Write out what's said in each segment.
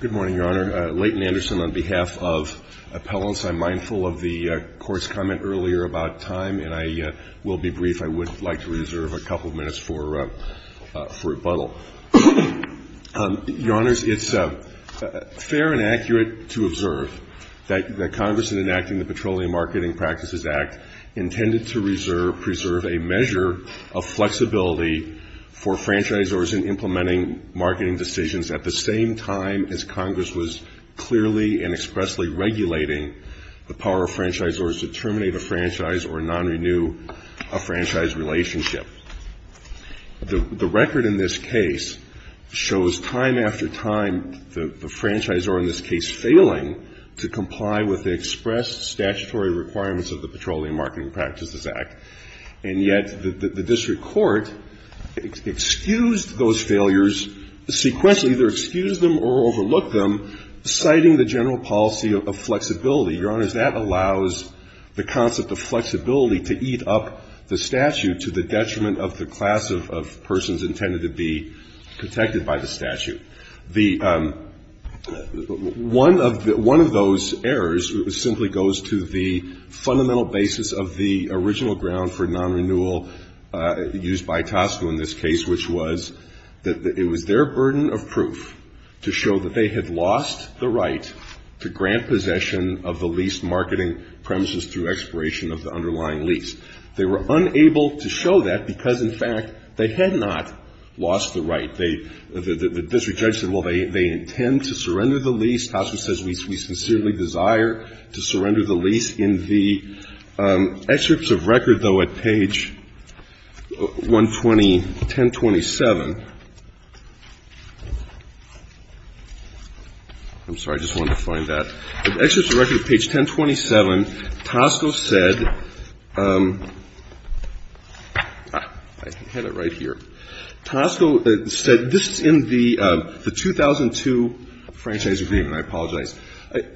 Good morning, Your Honor. Leighton Anderson on behalf of appellants. I'm mindful of the court's comment earlier about time, and I will be brief. I would like to reserve a couple of minutes for rebuttal. Your Honors, it's fair and accurate to observe that the Congress in enacting the Petroleum Marketing Practices Act intended to preserve a measure of flexibility for franchisors in implementing marketing decisions at the same time as Congress was clearly and expressly regulating the power of franchisors to terminate a franchise or non-renew a franchise relationship. The record in this case shows time after time the franchisor in this case failing to comply with the expressed statutory requirements of the Petroleum Marketing Practices Act. And yet the district court excused those failures sequentially, either excused them or overlooked them, citing the general policy of flexibility. Your Honors, that allows the concept of flexibility to eat up the statute to the detriment of the class of persons intended to be protected by the statute. The one of those errors simply goes to the fundamental basis of the original ground for non-renewal used by TASFA in this case, which was that it was their burden of proof to show that they had lost the right to grant possession of the leased marketing premises through expiration of the underlying lease. They were unable to show that because, in fact, they had not lost the right. The district judge said, well, they intend to surrender the lease. TASFA says, we sincerely desire to surrender the lease. In the excerpts of record, though, at page 1027. I'm sorry, I just wanted to find that. Excerpts of record at page 1027, TASFA said, this is in the 2002 franchise agreement. I apologize.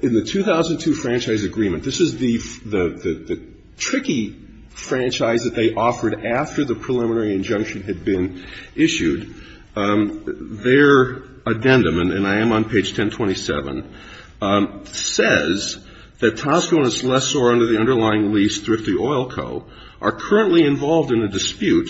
In the 2002 franchise agreement, this is the tricky franchise that they offered after the preliminary injunction had been issued. Their addendum, and I am on page 1027, says that TASFA and its lessor under the underlying lease, Thrifty Oil Co., are currently involved in a dispute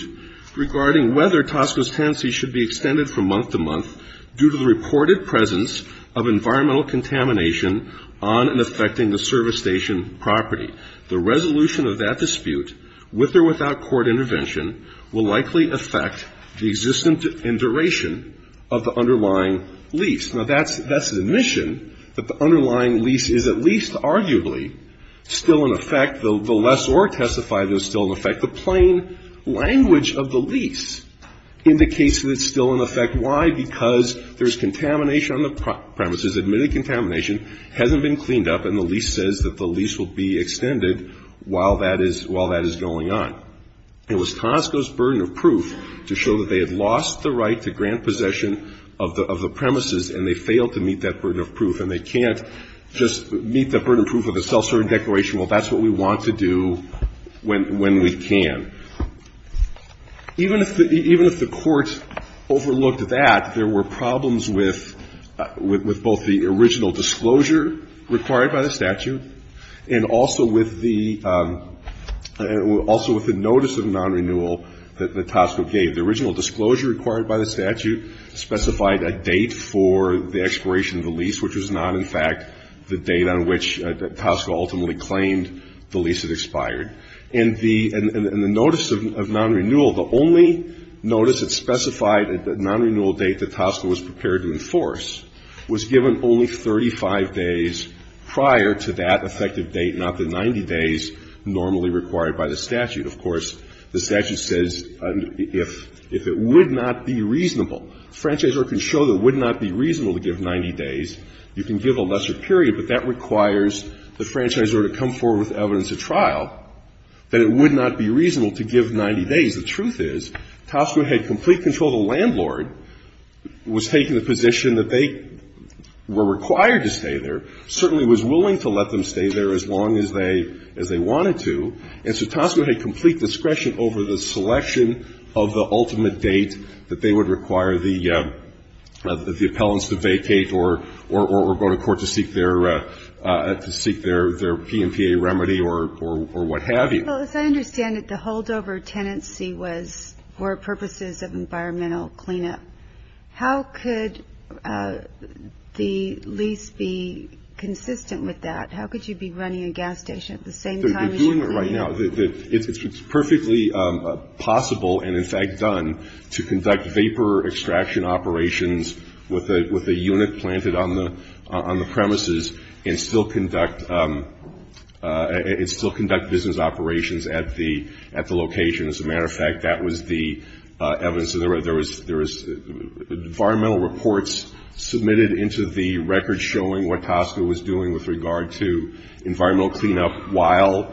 regarding whether TASFA's tenancy should be extended from month to month due to the reported presence of environmental contamination on and affecting the service station property. The resolution of that dispute, with or without court intervention, will likely affect the existence and duration of the underlying lease. Now, that's an admission that the underlying lease is at least arguably still in effect. The lessor testified is still in effect. The plain language of the lease indicates that it's still in effect. Why? Because there's contamination on the premises, admitted contamination, hasn't been cleaned up, and the lease says that the lease will be extended while that is going on. It was Conoco's burden of proof to show that they had lost the right to grant possession of the premises, and they failed to meet that burden of proof. And they can't just meet that burden of proof with a self-serving declaration. Well, that's what we want to do when we can. Even if the court overlooked that, there were problems with both the original disclosure required by the statute and also with the notice of non-renewal that Tosco gave. The original disclosure required by the statute specified a date for the expiration of the lease, which was not, in fact, the date on which Tosco ultimately claimed the lease had expired. And the notice of non-renewal, the only notice that specified a non-renewal date that Tosco was prepared to enforce, was given only 35 days prior to that effective date, not the 90 days normally required by the statute. Of course, the statute says if it would not be reasonable. Franchisee order can show that it would not be reasonable to give 90 days. You can give a lesser period, but that requires the franchise order to come forward with evidence at trial, that it would not be reasonable to give 90 days. The truth is, Tosco had complete control. The landlord was taking the position that they were required to stay there, certainly was willing to let them stay there as long as they wanted to. And so Tosco had complete discretion that they would require the appellants to vacate or go to court to seek their PMPA remedy or what have you. Well, as I understand it, the holdover tenancy was for purposes of environmental cleanup. How could the lease be consistent with that? How could you be running a gas station at the same time as you clean it? They're doing it right now. It's perfectly possible, and in fact done, to conduct vapor extraction operations with a unit planted on the premises and still conduct business operations at the location. As a matter of fact, that was the evidence. There was environmental reports submitted into the record showing what Tosco was doing with regard to environmental cleanup while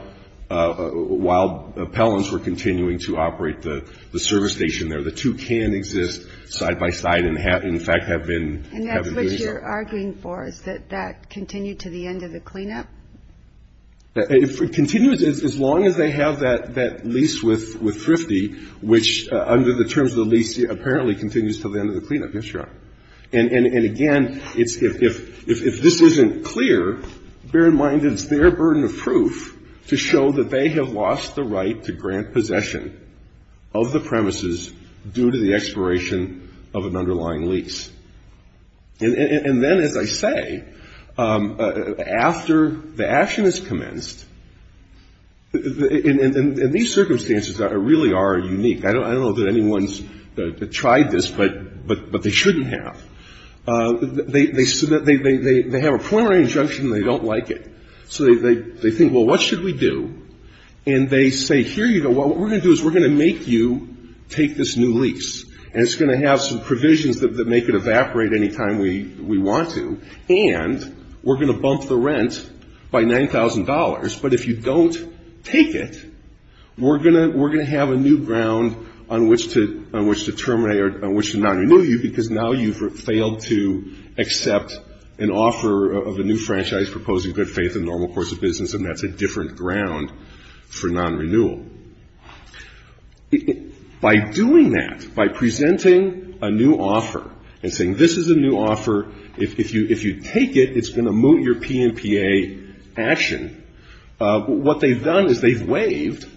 appellants were continuing to operate the service station there. The two can exist side by side and, in fact, have been doing so. And that's what you're arguing for, is that that continued to the end of the cleanup? If it continues, as long as they have that lease with Thrifty, which under the terms of the lease apparently continues to the end of the cleanup, yes, Your Honor. And again, if this isn't clear, bear in mind it's their burden of proof to show that they have lost the right to grant possession of the premises due to the expiration of an underlying lease. And then, as I say, after the action is commenced, and these circumstances really are unique. I don't know that anyone's tried this, but they shouldn't have. They have a preliminary injunction and they don't like it. So they think, well, what should we do? And they say, here you go. What we're going to do is we're going to make you take this new lease. And it's going to have some provisions that make it evaporate any time we want to. And we're going to bump the rent by $9,000. But if you don't take it, we're going to have a new ground on which to terminate or on which to not renew you because now you've failed to accept an offer of a new franchise proposing good faith and normal course of business. And that's a different ground for non-renewal. By doing that, by presenting a new offer and saying, this is a new offer. If you take it, it's going to moot your PNPA action. What they've done is they've waived,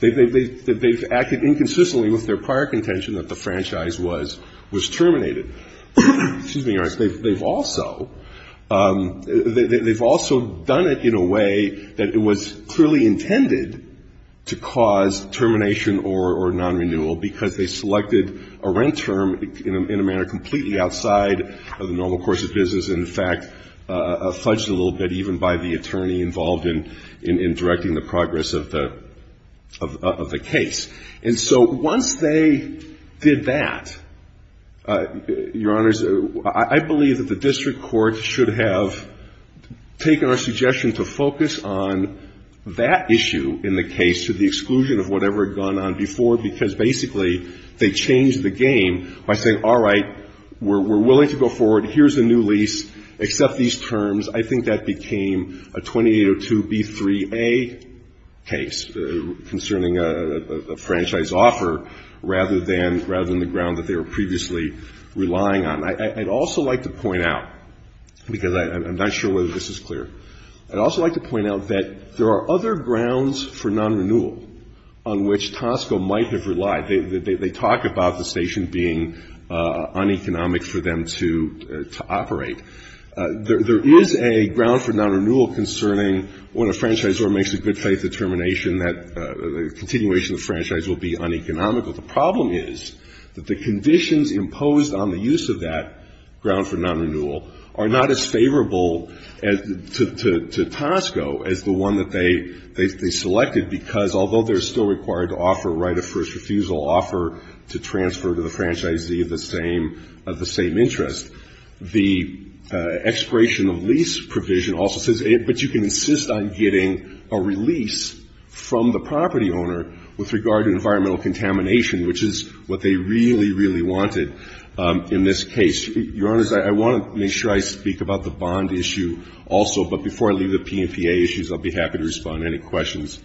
they've acted inconsistently with their prior contention that the franchise was terminated. They've also done it in a way that it was clearly intended to cause termination or non-renewal because they selected a rent term in a manner completely outside of the normal course of business and, in fact, fudged a little bit even by the attorney involved in directing the progress of the case. And so once they did that, Your Honors, I believe that the district court should have taken our suggestion to focus on that issue in the case to the exclusion of whatever had gone on before because basically they changed the game by saying, all right, we're willing to go forward. Here's a new lease. Accept these terms. I think that became a 2802B3A case concerning a franchise offer rather than the ground that they were previously relying on. I'd also like to point out, because I'm not sure whether this is clear, I'd also like to point out that there are other grounds for non-renewal on which Tosco might have relied. They talk about the station being uneconomic for them to operate. There is a ground for non-renewal concerning when a franchisor makes a good faith determination that the continuation of the franchise will be uneconomical. The problem is that the conditions imposed on the use of that ground for non-renewal are not as favorable to Tosco as the one that they selected, because although they're still required to offer a right of first refusal, offer to transfer to the franchisee of the same interest, the expiration of lease provision also says, but you can insist on getting a release from the property owner with regard to environmental contamination, which is what they really, really wanted in this case. Your Honors, I want to make sure I speak about the bond issue also, but before I leave the P&PA issues, I'll be happy to respond to any questions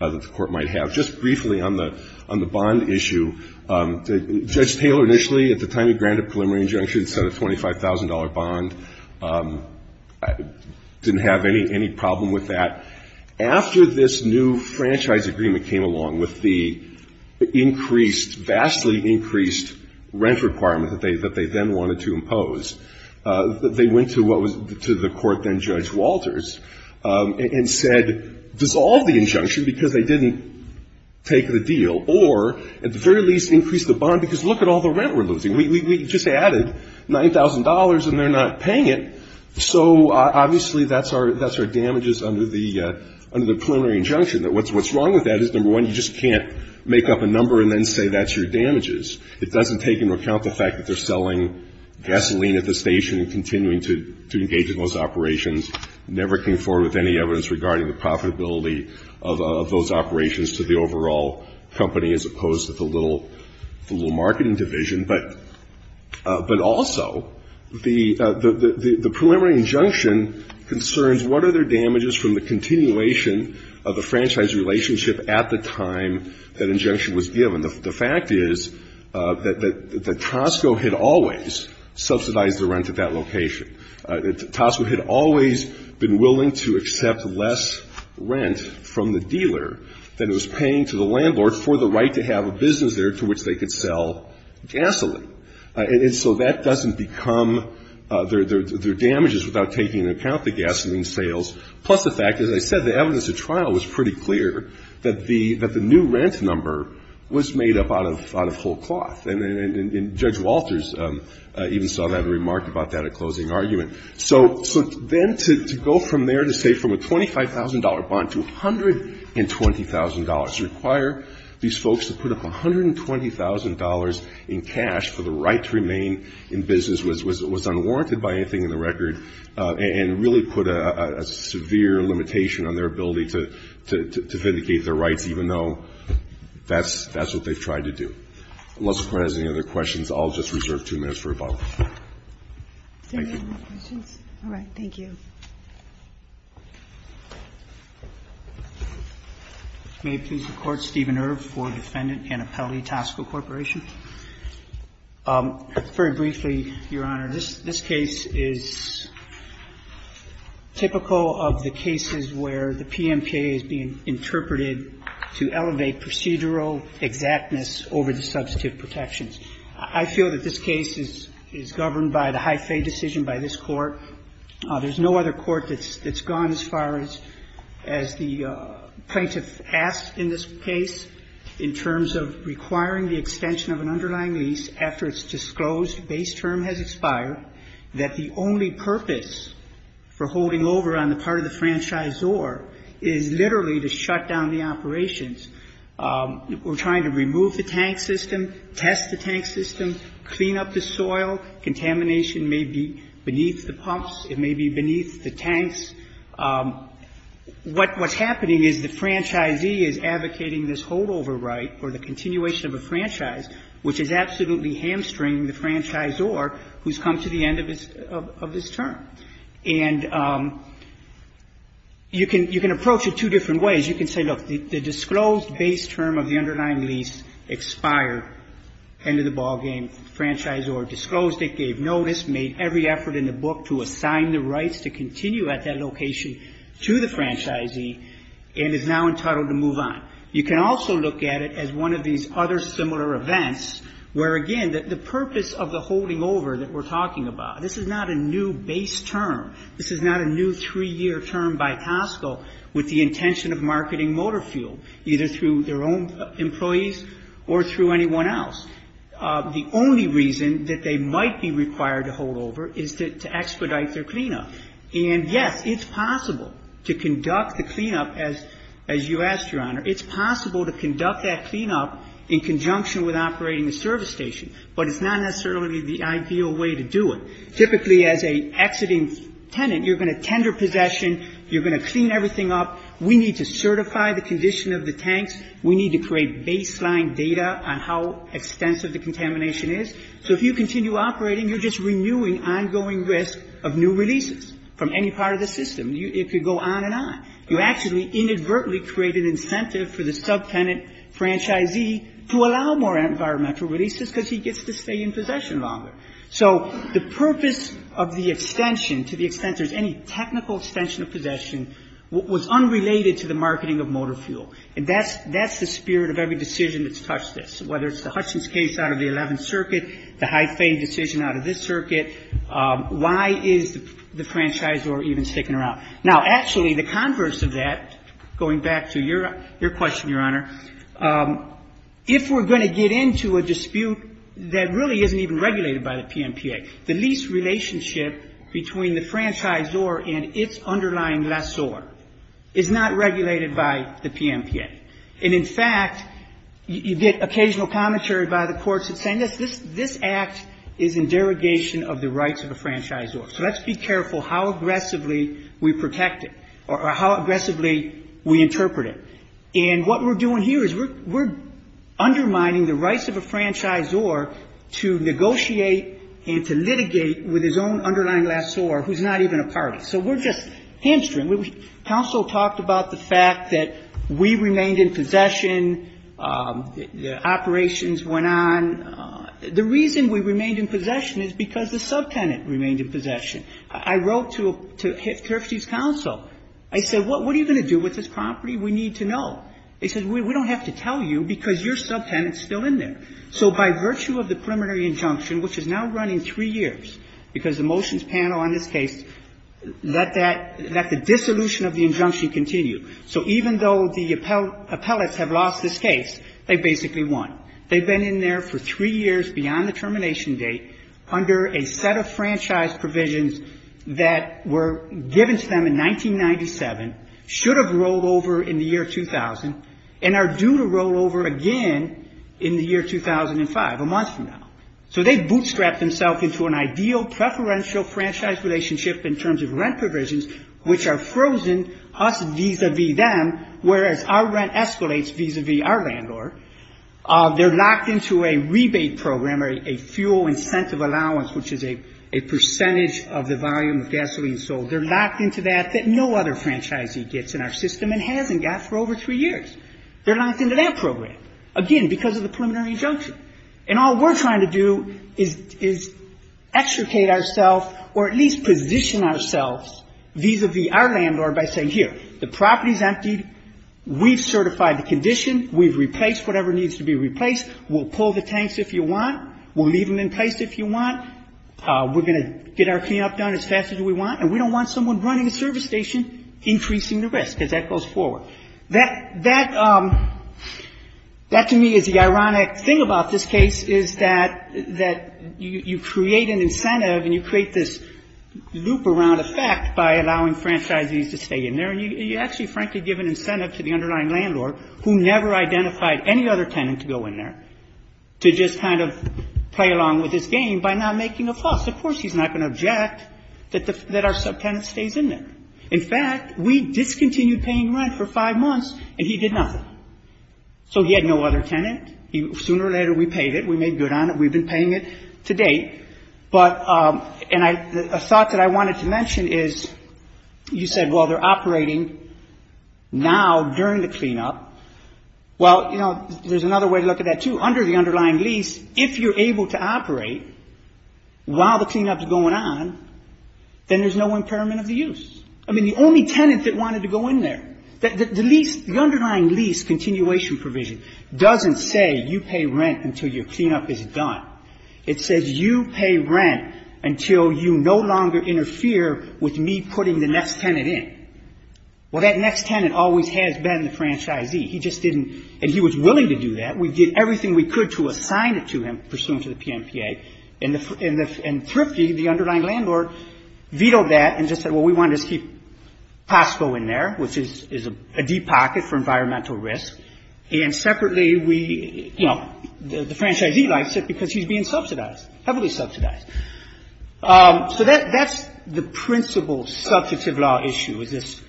that the Court might have. Just briefly on the bond issue, Judge Taylor initially, at the time he granted a preliminary injunction, set a $25,000 bond, didn't have any problem with that. After this new franchise agreement came along with the increased, vastly increased rent requirement that they then wanted to impose, they went to what was, to the court then Judge Walters, and said dissolve the injunction because they didn't take the deal. Or at the very least increase the bond because look at all the rent we're losing. We just added $9,000 and they're not paying it. So obviously that's our damages under the preliminary injunction. What's wrong with that is number one, you just can't make up a number and then say that's your damages. It doesn't take into account the fact that they're selling gasoline at the station and continuing to engage in those operations. Never came forward with any evidence regarding the profitability of those operations to the overall company as opposed to the little marketing division. But also the preliminary injunction concerns what are their damages from the continuation of the franchise relationship at the time that injunction was given. The fact is that Tosco had always subsidized the rent at that location. Tosco had always been willing to accept less rent from the dealer than it was paying to the landlord for the right to have a business there to which they could sell gasoline. And so that doesn't become their damages without taking into account the gasoline sales. Plus the fact, as I said, the evidence at trial was pretty clear that the new rent number was made up out of whole cloth. And Judge Walters even saw that and remarked about that at closing argument. So then to go from there to say from a $25,000 bond to $120,000, require these folks to put up $120,000 in cash for the right to remain in business was unwarranted by anything in the record and really put a severe limitation on their ability to vindicate their rights, even though that's what they've tried to do. Unless the Court has any other questions, I'll just reserve two minutes for rebuttal. Thank you. All right. Thank you. May it please the Court. Steven Irv for Defendant Annapelle Tosco Corporation. Very briefly, Your Honor, this case is typical of the cases where the PMCA is being interpreted to elevate procedural exactness over the substantive protections. I feel that this case is governed by the Hy-Fay decision by this Court. There's no other court that's gone as far as the plaintiff asked in this case in terms of requiring the extension of an underlying lease after its disclosed base term has expired, that the only purpose for holding over on the part of the franchisor is literally to shut down the operations. We're trying to remove the tank system, test the tank system, clean up the soil. Contamination may be beneath the pumps. It may be beneath the tanks. What's happening is the franchisee is advocating this holdover right or the continuation of a franchise, which is absolutely hamstringing the franchisor who's come to the end of his term. And you can approach it two different ways. You can say, look, the disclosed base term of the underlying lease expired, end of the ballgame, franchisor disclosed it, gave notice, made every effort in the book to assign the rights to continue at that location to the franchisee and is now entitled to move on. You can also look at it as one of these other similar events where, again, the purpose of the holding over that we're talking about, this is not a new base term. This is not a new three-year term by Costco with the intention of marketing motor fuel, either through their own employees or through anyone else. The only reason that they might be required to hold over is to expedite their cleanup. And, yes, it's possible to conduct the cleanup, as you asked, Your Honor. It's possible to conduct that cleanup in conjunction with operating a service station. But it's not necessarily the ideal way to do it. Typically, as an exiting tenant, you're going to tender possession, you're going to clean everything up. We need to certify the condition of the tanks. We need to create baseline data on how extensive the contamination is. So if you continue operating, you're just renewing ongoing risk of new releases from any part of the system. It could go on and on. You actually inadvertently create an incentive for the subtenant franchisee to allow more environmental releases because he gets to stay in possession longer. So the purpose of the extension, to the extent there's any technical extension of possession, was unrelated to the marketing of motor fuel. And that's the spirit of every decision that's touched this, whether it's the Hutchins case out of the Eleventh Circuit, the Hy-Fay decision out of this circuit. Why is the franchisor even sticking around? Now, actually, the converse of that, going back to your question, Your Honor, if we're going to get into a dispute that really isn't even regulated by the PMPA, the lease relationship between the franchisor and its underlying lessor is not regulated by the PMPA. And, in fact, you get occasional commentary by the courts that say this act is in derogation of the rights of a franchisor. So let's be careful how aggressively we protect it or how aggressively we interpret it. And what we're doing here is we're undermining the rights of a franchisor to negotiate and to litigate with his own underlying lessor, who's not even a party. So we're just hamstringing. Counsel talked about the fact that we remained in possession. The operations went on. The reason we remained in possession is because the subtenant remained in possession. I wrote to Terfty's counsel. I said, what are you going to do with this property? We need to know. They said, we don't have to tell you because your subtenant is still in there. So by virtue of the preliminary injunction, which is now running three years, because the motions panel on this case let that the dissolution of the injunction continue. So even though the appellates have lost this case, they basically won. They've been in there for three years beyond the termination date under a set of franchise provisions that were given to them in 1997, should have rolled over in the year 2000, and are due to roll over again in the year 2005, a month from now. So they bootstrapped themselves into an ideal preferential franchise relationship in terms of rent provisions, which are frozen us vis-a-vis them, whereas our rent escalates vis-a-vis our landlord. They're locked into a rebate program or a fuel incentive allowance, which is a percentage of the volume of gasoline sold. They're locked into that that no other franchisee gets in our system and hasn't got for over three years. They're locked into that program, again, because of the preliminary injunction. And all we're trying to do is extricate ourselves or at least position ourselves vis-a-vis our landlord by saying, here, the property's emptied. We've certified the condition. We've replaced whatever needs to be replaced. We'll pull the tanks if you want. We'll leave them in place if you want. We're going to get our cleanup done as fast as we want, and we don't want someone running a service station increasing the risk, because that goes forward. That to me is the ironic thing about this case, is that you create an incentive and you create this loop around effect by allowing franchisees to stay in there. And you actually, frankly, give an incentive to the underlying landlord, who never identified any other tenant to go in there, to just kind of play along with this game by not making a fuss. Of course he's not going to object that our subtenant stays in there. In fact, we discontinued paying rent for five months, and he did nothing. So he had no other tenant. Sooner or later, we paid it. We made good on it. We've been paying it to date. But, and a thought that I wanted to mention is you said, well, they're operating now during the cleanup. Well, you know, there's another way to look at that, too. Under the underlying lease, if you're able to operate while the cleanup's going on, then there's no impairment of the use. I mean, the only tenant that wanted to go in there. The lease, the underlying lease continuation provision doesn't say you pay rent until your cleanup is done. It says you pay rent until you no longer interfere with me putting the next tenant in. Well, that next tenant always has been the franchisee. He just didn't, and he was willing to do that. We did everything we could to assign it to him, pursuant to the PNPA. And Thrifty, the underlying landlord, vetoed that and just said, well, we wanted to keep POSCO in there, which is a deep pocket for environmental risk. And separately, we, you know, the franchisee likes it because he's being subsidized, heavily subsidized. So that's the principal subjective law issue is this,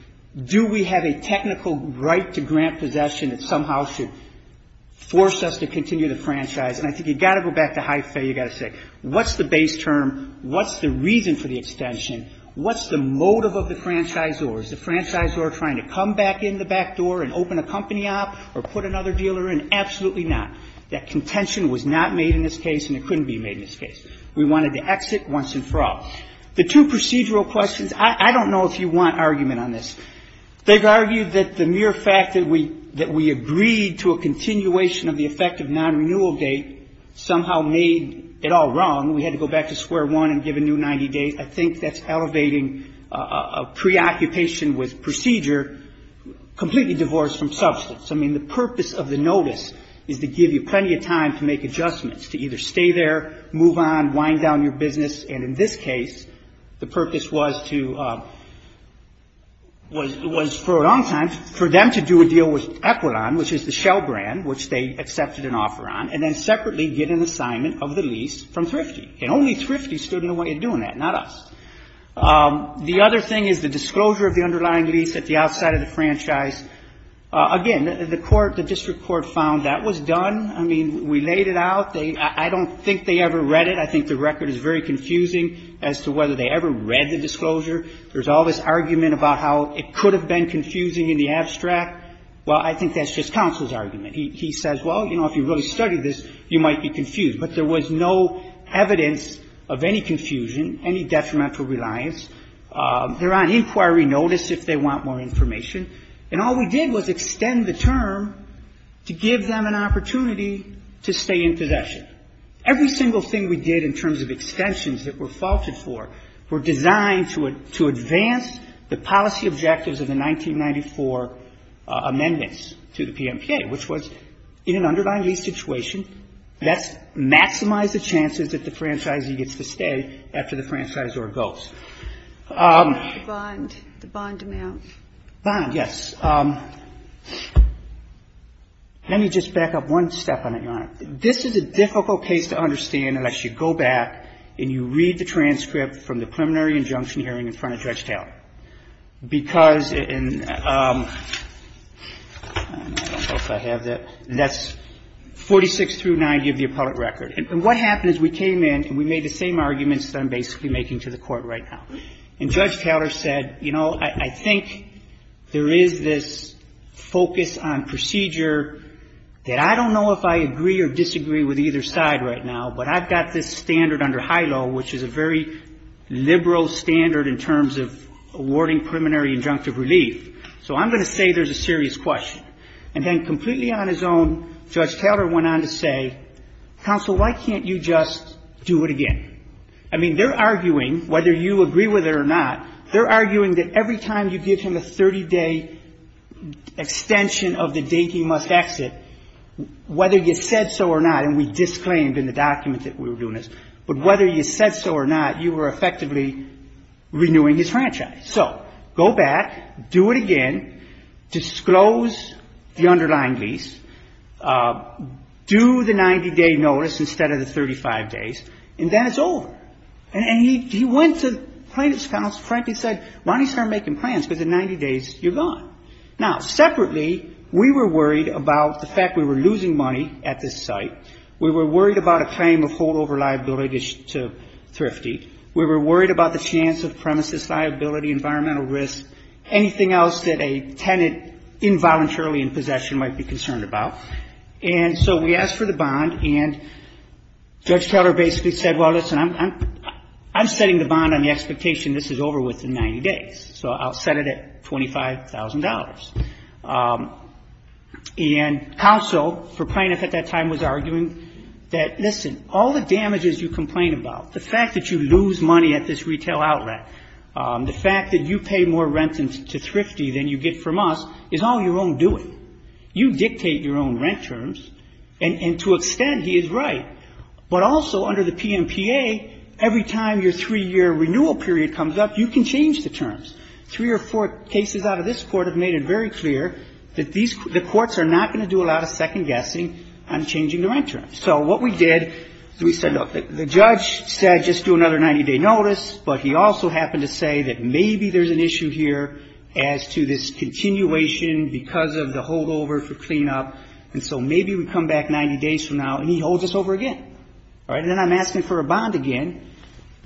do we have a technical right to grant possession that somehow should force us to continue the franchise? And I think you've got to go back to Hy-Fay. You've got to say, what's the base term? What's the reason for the extension? What's the motive of the franchisor? Is the franchisor trying to come back in the back door and open a company up or put another dealer in? Absolutely not. That contention was not made in this case, and it couldn't be made in this case. We wanted to exit once and for all. The two procedural questions, I don't know if you want argument on this. They've argued that the mere fact that we agreed to a continuation of the effective non-renewal date somehow made it all wrong. We had to go back to square one and give a new 90 days. I think that's elevating a preoccupation with procedure completely divorced from substance. I mean, the purpose of the notice is to give you plenty of time to make adjustments, to either stay there, move on, wind down your business. And in this case, the purpose was to – was for a long time for them to do a deal with Equilon, which is the Shell brand, which they accepted an offer on, and then separately get an assignment of the lease from Thrifty. And only Thrifty stood in the way of doing that, not us. The other thing is the disclosure of the underlying lease at the outside of the franchise. Again, the court, the district court found that was done. I mean, we laid it out. I don't think they ever read it. I think the record is very confusing as to whether they ever read the disclosure. There's all this argument about how it could have been confusing in the abstract. Well, I think that's just counsel's argument. He says, well, you know, if you really studied this, you might be confused. But there was no evidence of any confusion, any detrimental reliance. They're on inquiry notice if they want more information. And all we did was extend the term to give them an opportunity to stay in possession. Every single thing we did in terms of extensions that were faulted for were designed to advance the policy objectives of the 1994 amendments to the PMPA, which was in an underlying lease situation. That's maximize the chances that the franchisee gets to stay after the franchisor goes. The bond. The bond amount. Bond, yes. Let me just back up one step on it, Your Honor. This is a difficult case to understand unless you go back and you read the transcript from the preliminary injunction hearing in front of Judge Taylor. And I don't know if I have that. That's 46 through 90 of the appellate record. And what happened is we came in and we made the same arguments that I'm basically making to the Court right now. And Judge Taylor said, you know, I think there is this focus on procedure that I don't know if I agree or disagree with either side right now, but I've got this standard under HILO, which is a very liberal standard in terms of awarding preliminary injunctive relief. So I'm going to say there's a serious question. And then completely on his own, Judge Taylor went on to say, Counsel, why can't you just do it again? I mean, they're arguing, whether you agree with it or not, they're arguing that every time you give him a 30-day extension of the date he must exit, whether you said so or not, and we disclaimed in the document that we were doing this. But whether you said so or not, you were effectively renewing his franchise. So go back, do it again, disclose the underlying lease, do the 90-day notice instead of the 35 days, and then it's over. And he went to plaintiff's counsel, frankly said, why don't you start making plans, because in 90 days you're gone. Now, separately, we were worried about the fact we were losing money at this site. We were worried about a claim of holdover liability to Thrifty. We were worried about the chance of premises liability, environmental risk, anything else that a tenant involuntarily in possession might be concerned about. And so we asked for the bond, and Judge Taylor basically said, well, listen, I'm setting the bond on the expectation this is over within 90 days. So I'll set it at $25,000. And counsel for plaintiff at that time was arguing that, listen, all the damages you complain about, the fact that you lose money at this retail outlet, the fact that you pay more rent to Thrifty than you get from us is all your own doing. You dictate your own rent terms. And to an extent, he is right. But also under the PMPA, every time your three-year renewal period comes up, you can change the terms. Three or four cases out of this court have made it very clear that the courts are not going to do a lot of second-guessing on changing the rent terms. So what we did is we said, look, the judge said just do another 90-day notice, but he also happened to say that maybe there's an issue here as to this continuation because of the holdover for cleanup, and so maybe we come back 90 days from now and he holds us over again. All right? And then I'm asking for a bond again,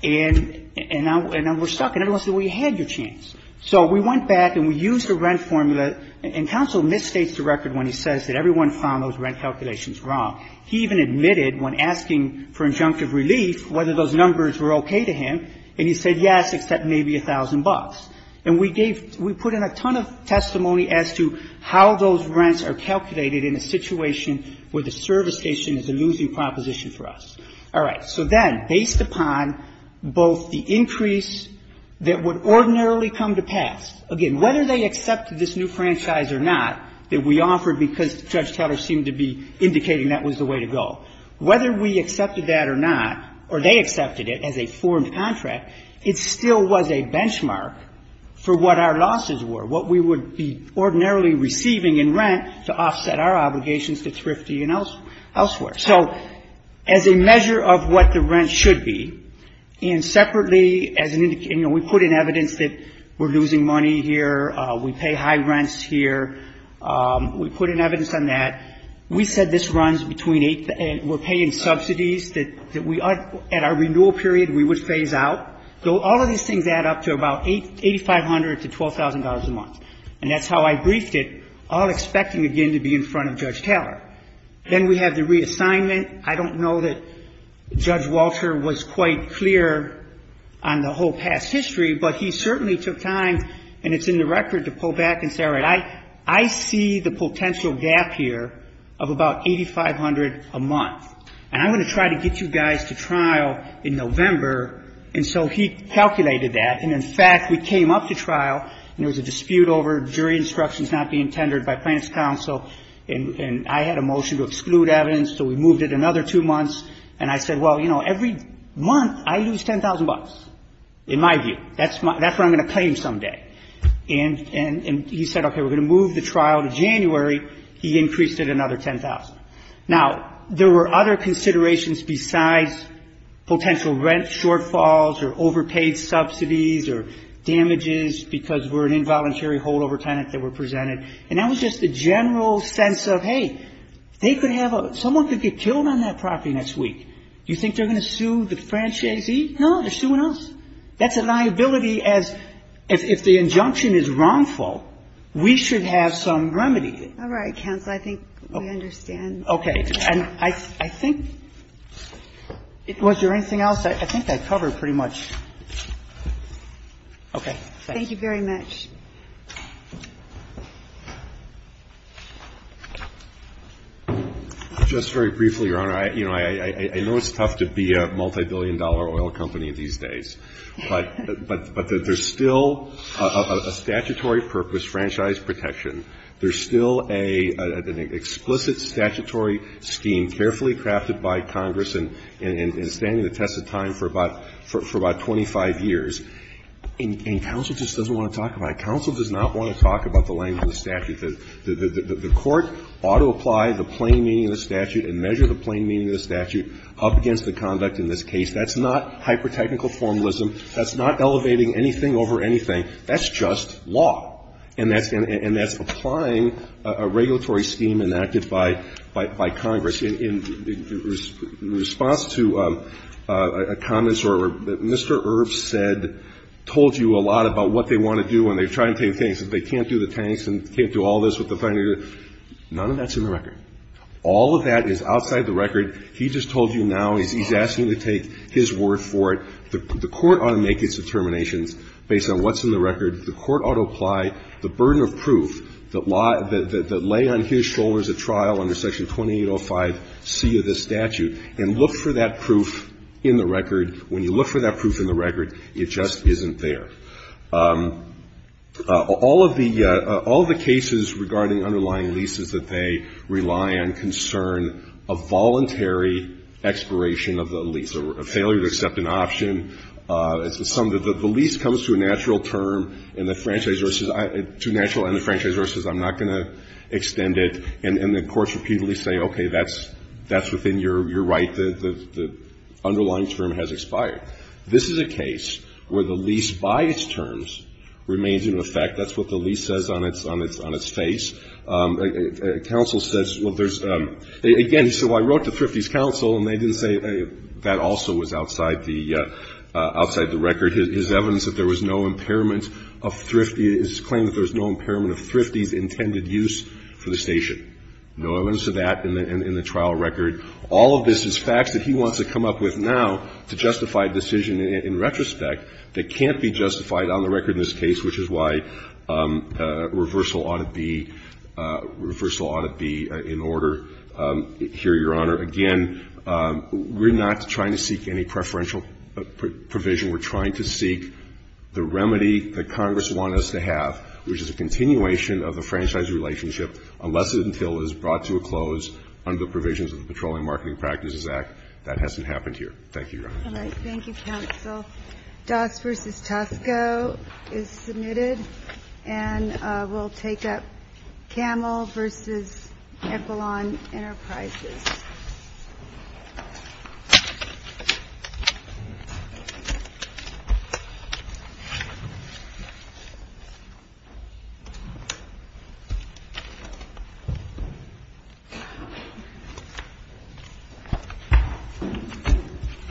and now we're stuck. And everyone said, well, you had your chance. So we went back and we used the rent formula, and counsel misstates the record when he says that everyone found those rent calculations wrong. He even admitted when asking for injunctive relief whether those numbers were okay to him, and he said, yes, except maybe a thousand bucks. And we gave we put in a ton of testimony as to how those rents are calculated in a situation where the service station is a losing proposition for us. All right. So then, based upon both the increase that would ordinarily come to pass, again, whether they accepted this new franchise or not that we offered because Judge Teller seemed to be indicating that was the way to go, whether we accepted that or not, or they accepted it as a formed contract, it still was a benchmark for what our losses were, what we would be ordinarily receiving in rent to offset our obligations to Thrifty and elsewhere. So as a measure of what the rent should be, and separately as an indication we put in evidence that we're losing money here, we pay high rents here. We put in evidence on that. We said this runs between eight and we're paying subsidies that we at our renewal period we would phase out. So all of these things add up to about $8,500 to $12,000 a month. And that's how I briefed it, all expecting, again, to be in front of Judge Teller. Then we have the reassignment. I don't know that Judge Walter was quite clear on the whole past history, but he certainly took time, and it's in the record, to pull back and say, all right, I see the potential gap here of about $8,500 a month. And I'm going to try to get you guys to trial in November. And so he calculated that. And, in fact, we came up to trial and there was a dispute over jury instructions not being tendered by plaintiff's counsel. And I had a motion to exclude evidence, so we moved it another two months. And I said, well, you know, every month I lose $10,000, in my view. That's what I'm going to claim someday. And he said, okay, we're going to move the trial to January. He increased it another $10,000. Now, there were other considerations besides potential rent shortfalls or overpaid subsidies or damages because we're an involuntary holdover tenant that were presented. And that was just the general sense of, hey, they could have a – someone could get killed on that property next week. Do you think they're going to sue the franchisee? No, they're suing us. That's a liability as – if the injunction is wrongful, we should have some remedy. All right, counsel. I think we understand. Okay. And I think – was there anything else? I think I covered pretty much. Okay. Thank you. Thank you very much. Just very briefly, Your Honor. You know, I know it's tough to be a multibillion-dollar oil company these days. But there's still a statutory purpose, franchise protection. There's still an explicit statutory scheme carefully crafted by Congress. And standing the test of time for about – for about 25 years. And counsel just doesn't want to talk about it. Counsel does not want to talk about the language of the statute. The court ought to apply the plain meaning of the statute and measure the plain meaning of the statute up against the conduct in this case. That's not hyper-technical formalism. That's not elevating anything over anything. That's just law. And that's applying a regulatory scheme enacted by Congress. In response to a comment that Mr. Earp said, told you a lot about what they want to do when they're trying to take things, that they can't do the tanks and can't do all this with the finery. None of that's in the record. All of that is outside the record. He just told you now. He's asking you to take his word for it. The court ought to make its determinations based on what's in the record. The court ought to apply the burden of proof that lay on his shoulders at trial under Section 2805C of the statute and look for that proof in the record. When you look for that proof in the record, it just isn't there. All of the cases regarding underlying leases that they rely on concern a voluntary expiration of the lease, a failure to accept an option. The lease comes to a natural term and the franchise versus to natural and the franchise versus I'm not going to extend it. And the courts repeatedly say, okay, that's within your right. The underlying term has expired. This is a case where the lease by its terms remains in effect. That's what the lease says on its face. Counsel says, well, there's – again, so I wrote to Thrifty's counsel and they didn't say that also was outside the record. His evidence that there was no impairment of Thrifty's – his claim that there was no impairment of Thrifty's intended use for the station. No evidence of that in the trial record. All of this is facts that he wants to come up with now to justify a decision in retrospect that can't be justified on the record in this case, which is why reversal ought to be – reversal ought to be in order here, Your Honor. Again, we're not trying to seek any preferential provision. We're trying to seek the remedy that Congress want us to have, which is a continuation of the franchise relationship unless and until it is brought to a close under the provisions of the Petroleum Marketing Practices Act. That hasn't happened here. Thank you, Your Honor. All right. Thank you, counsel. Doss v. Tosco is submitted, and we'll take up Camel v. Equilon Enterprises. Thank you.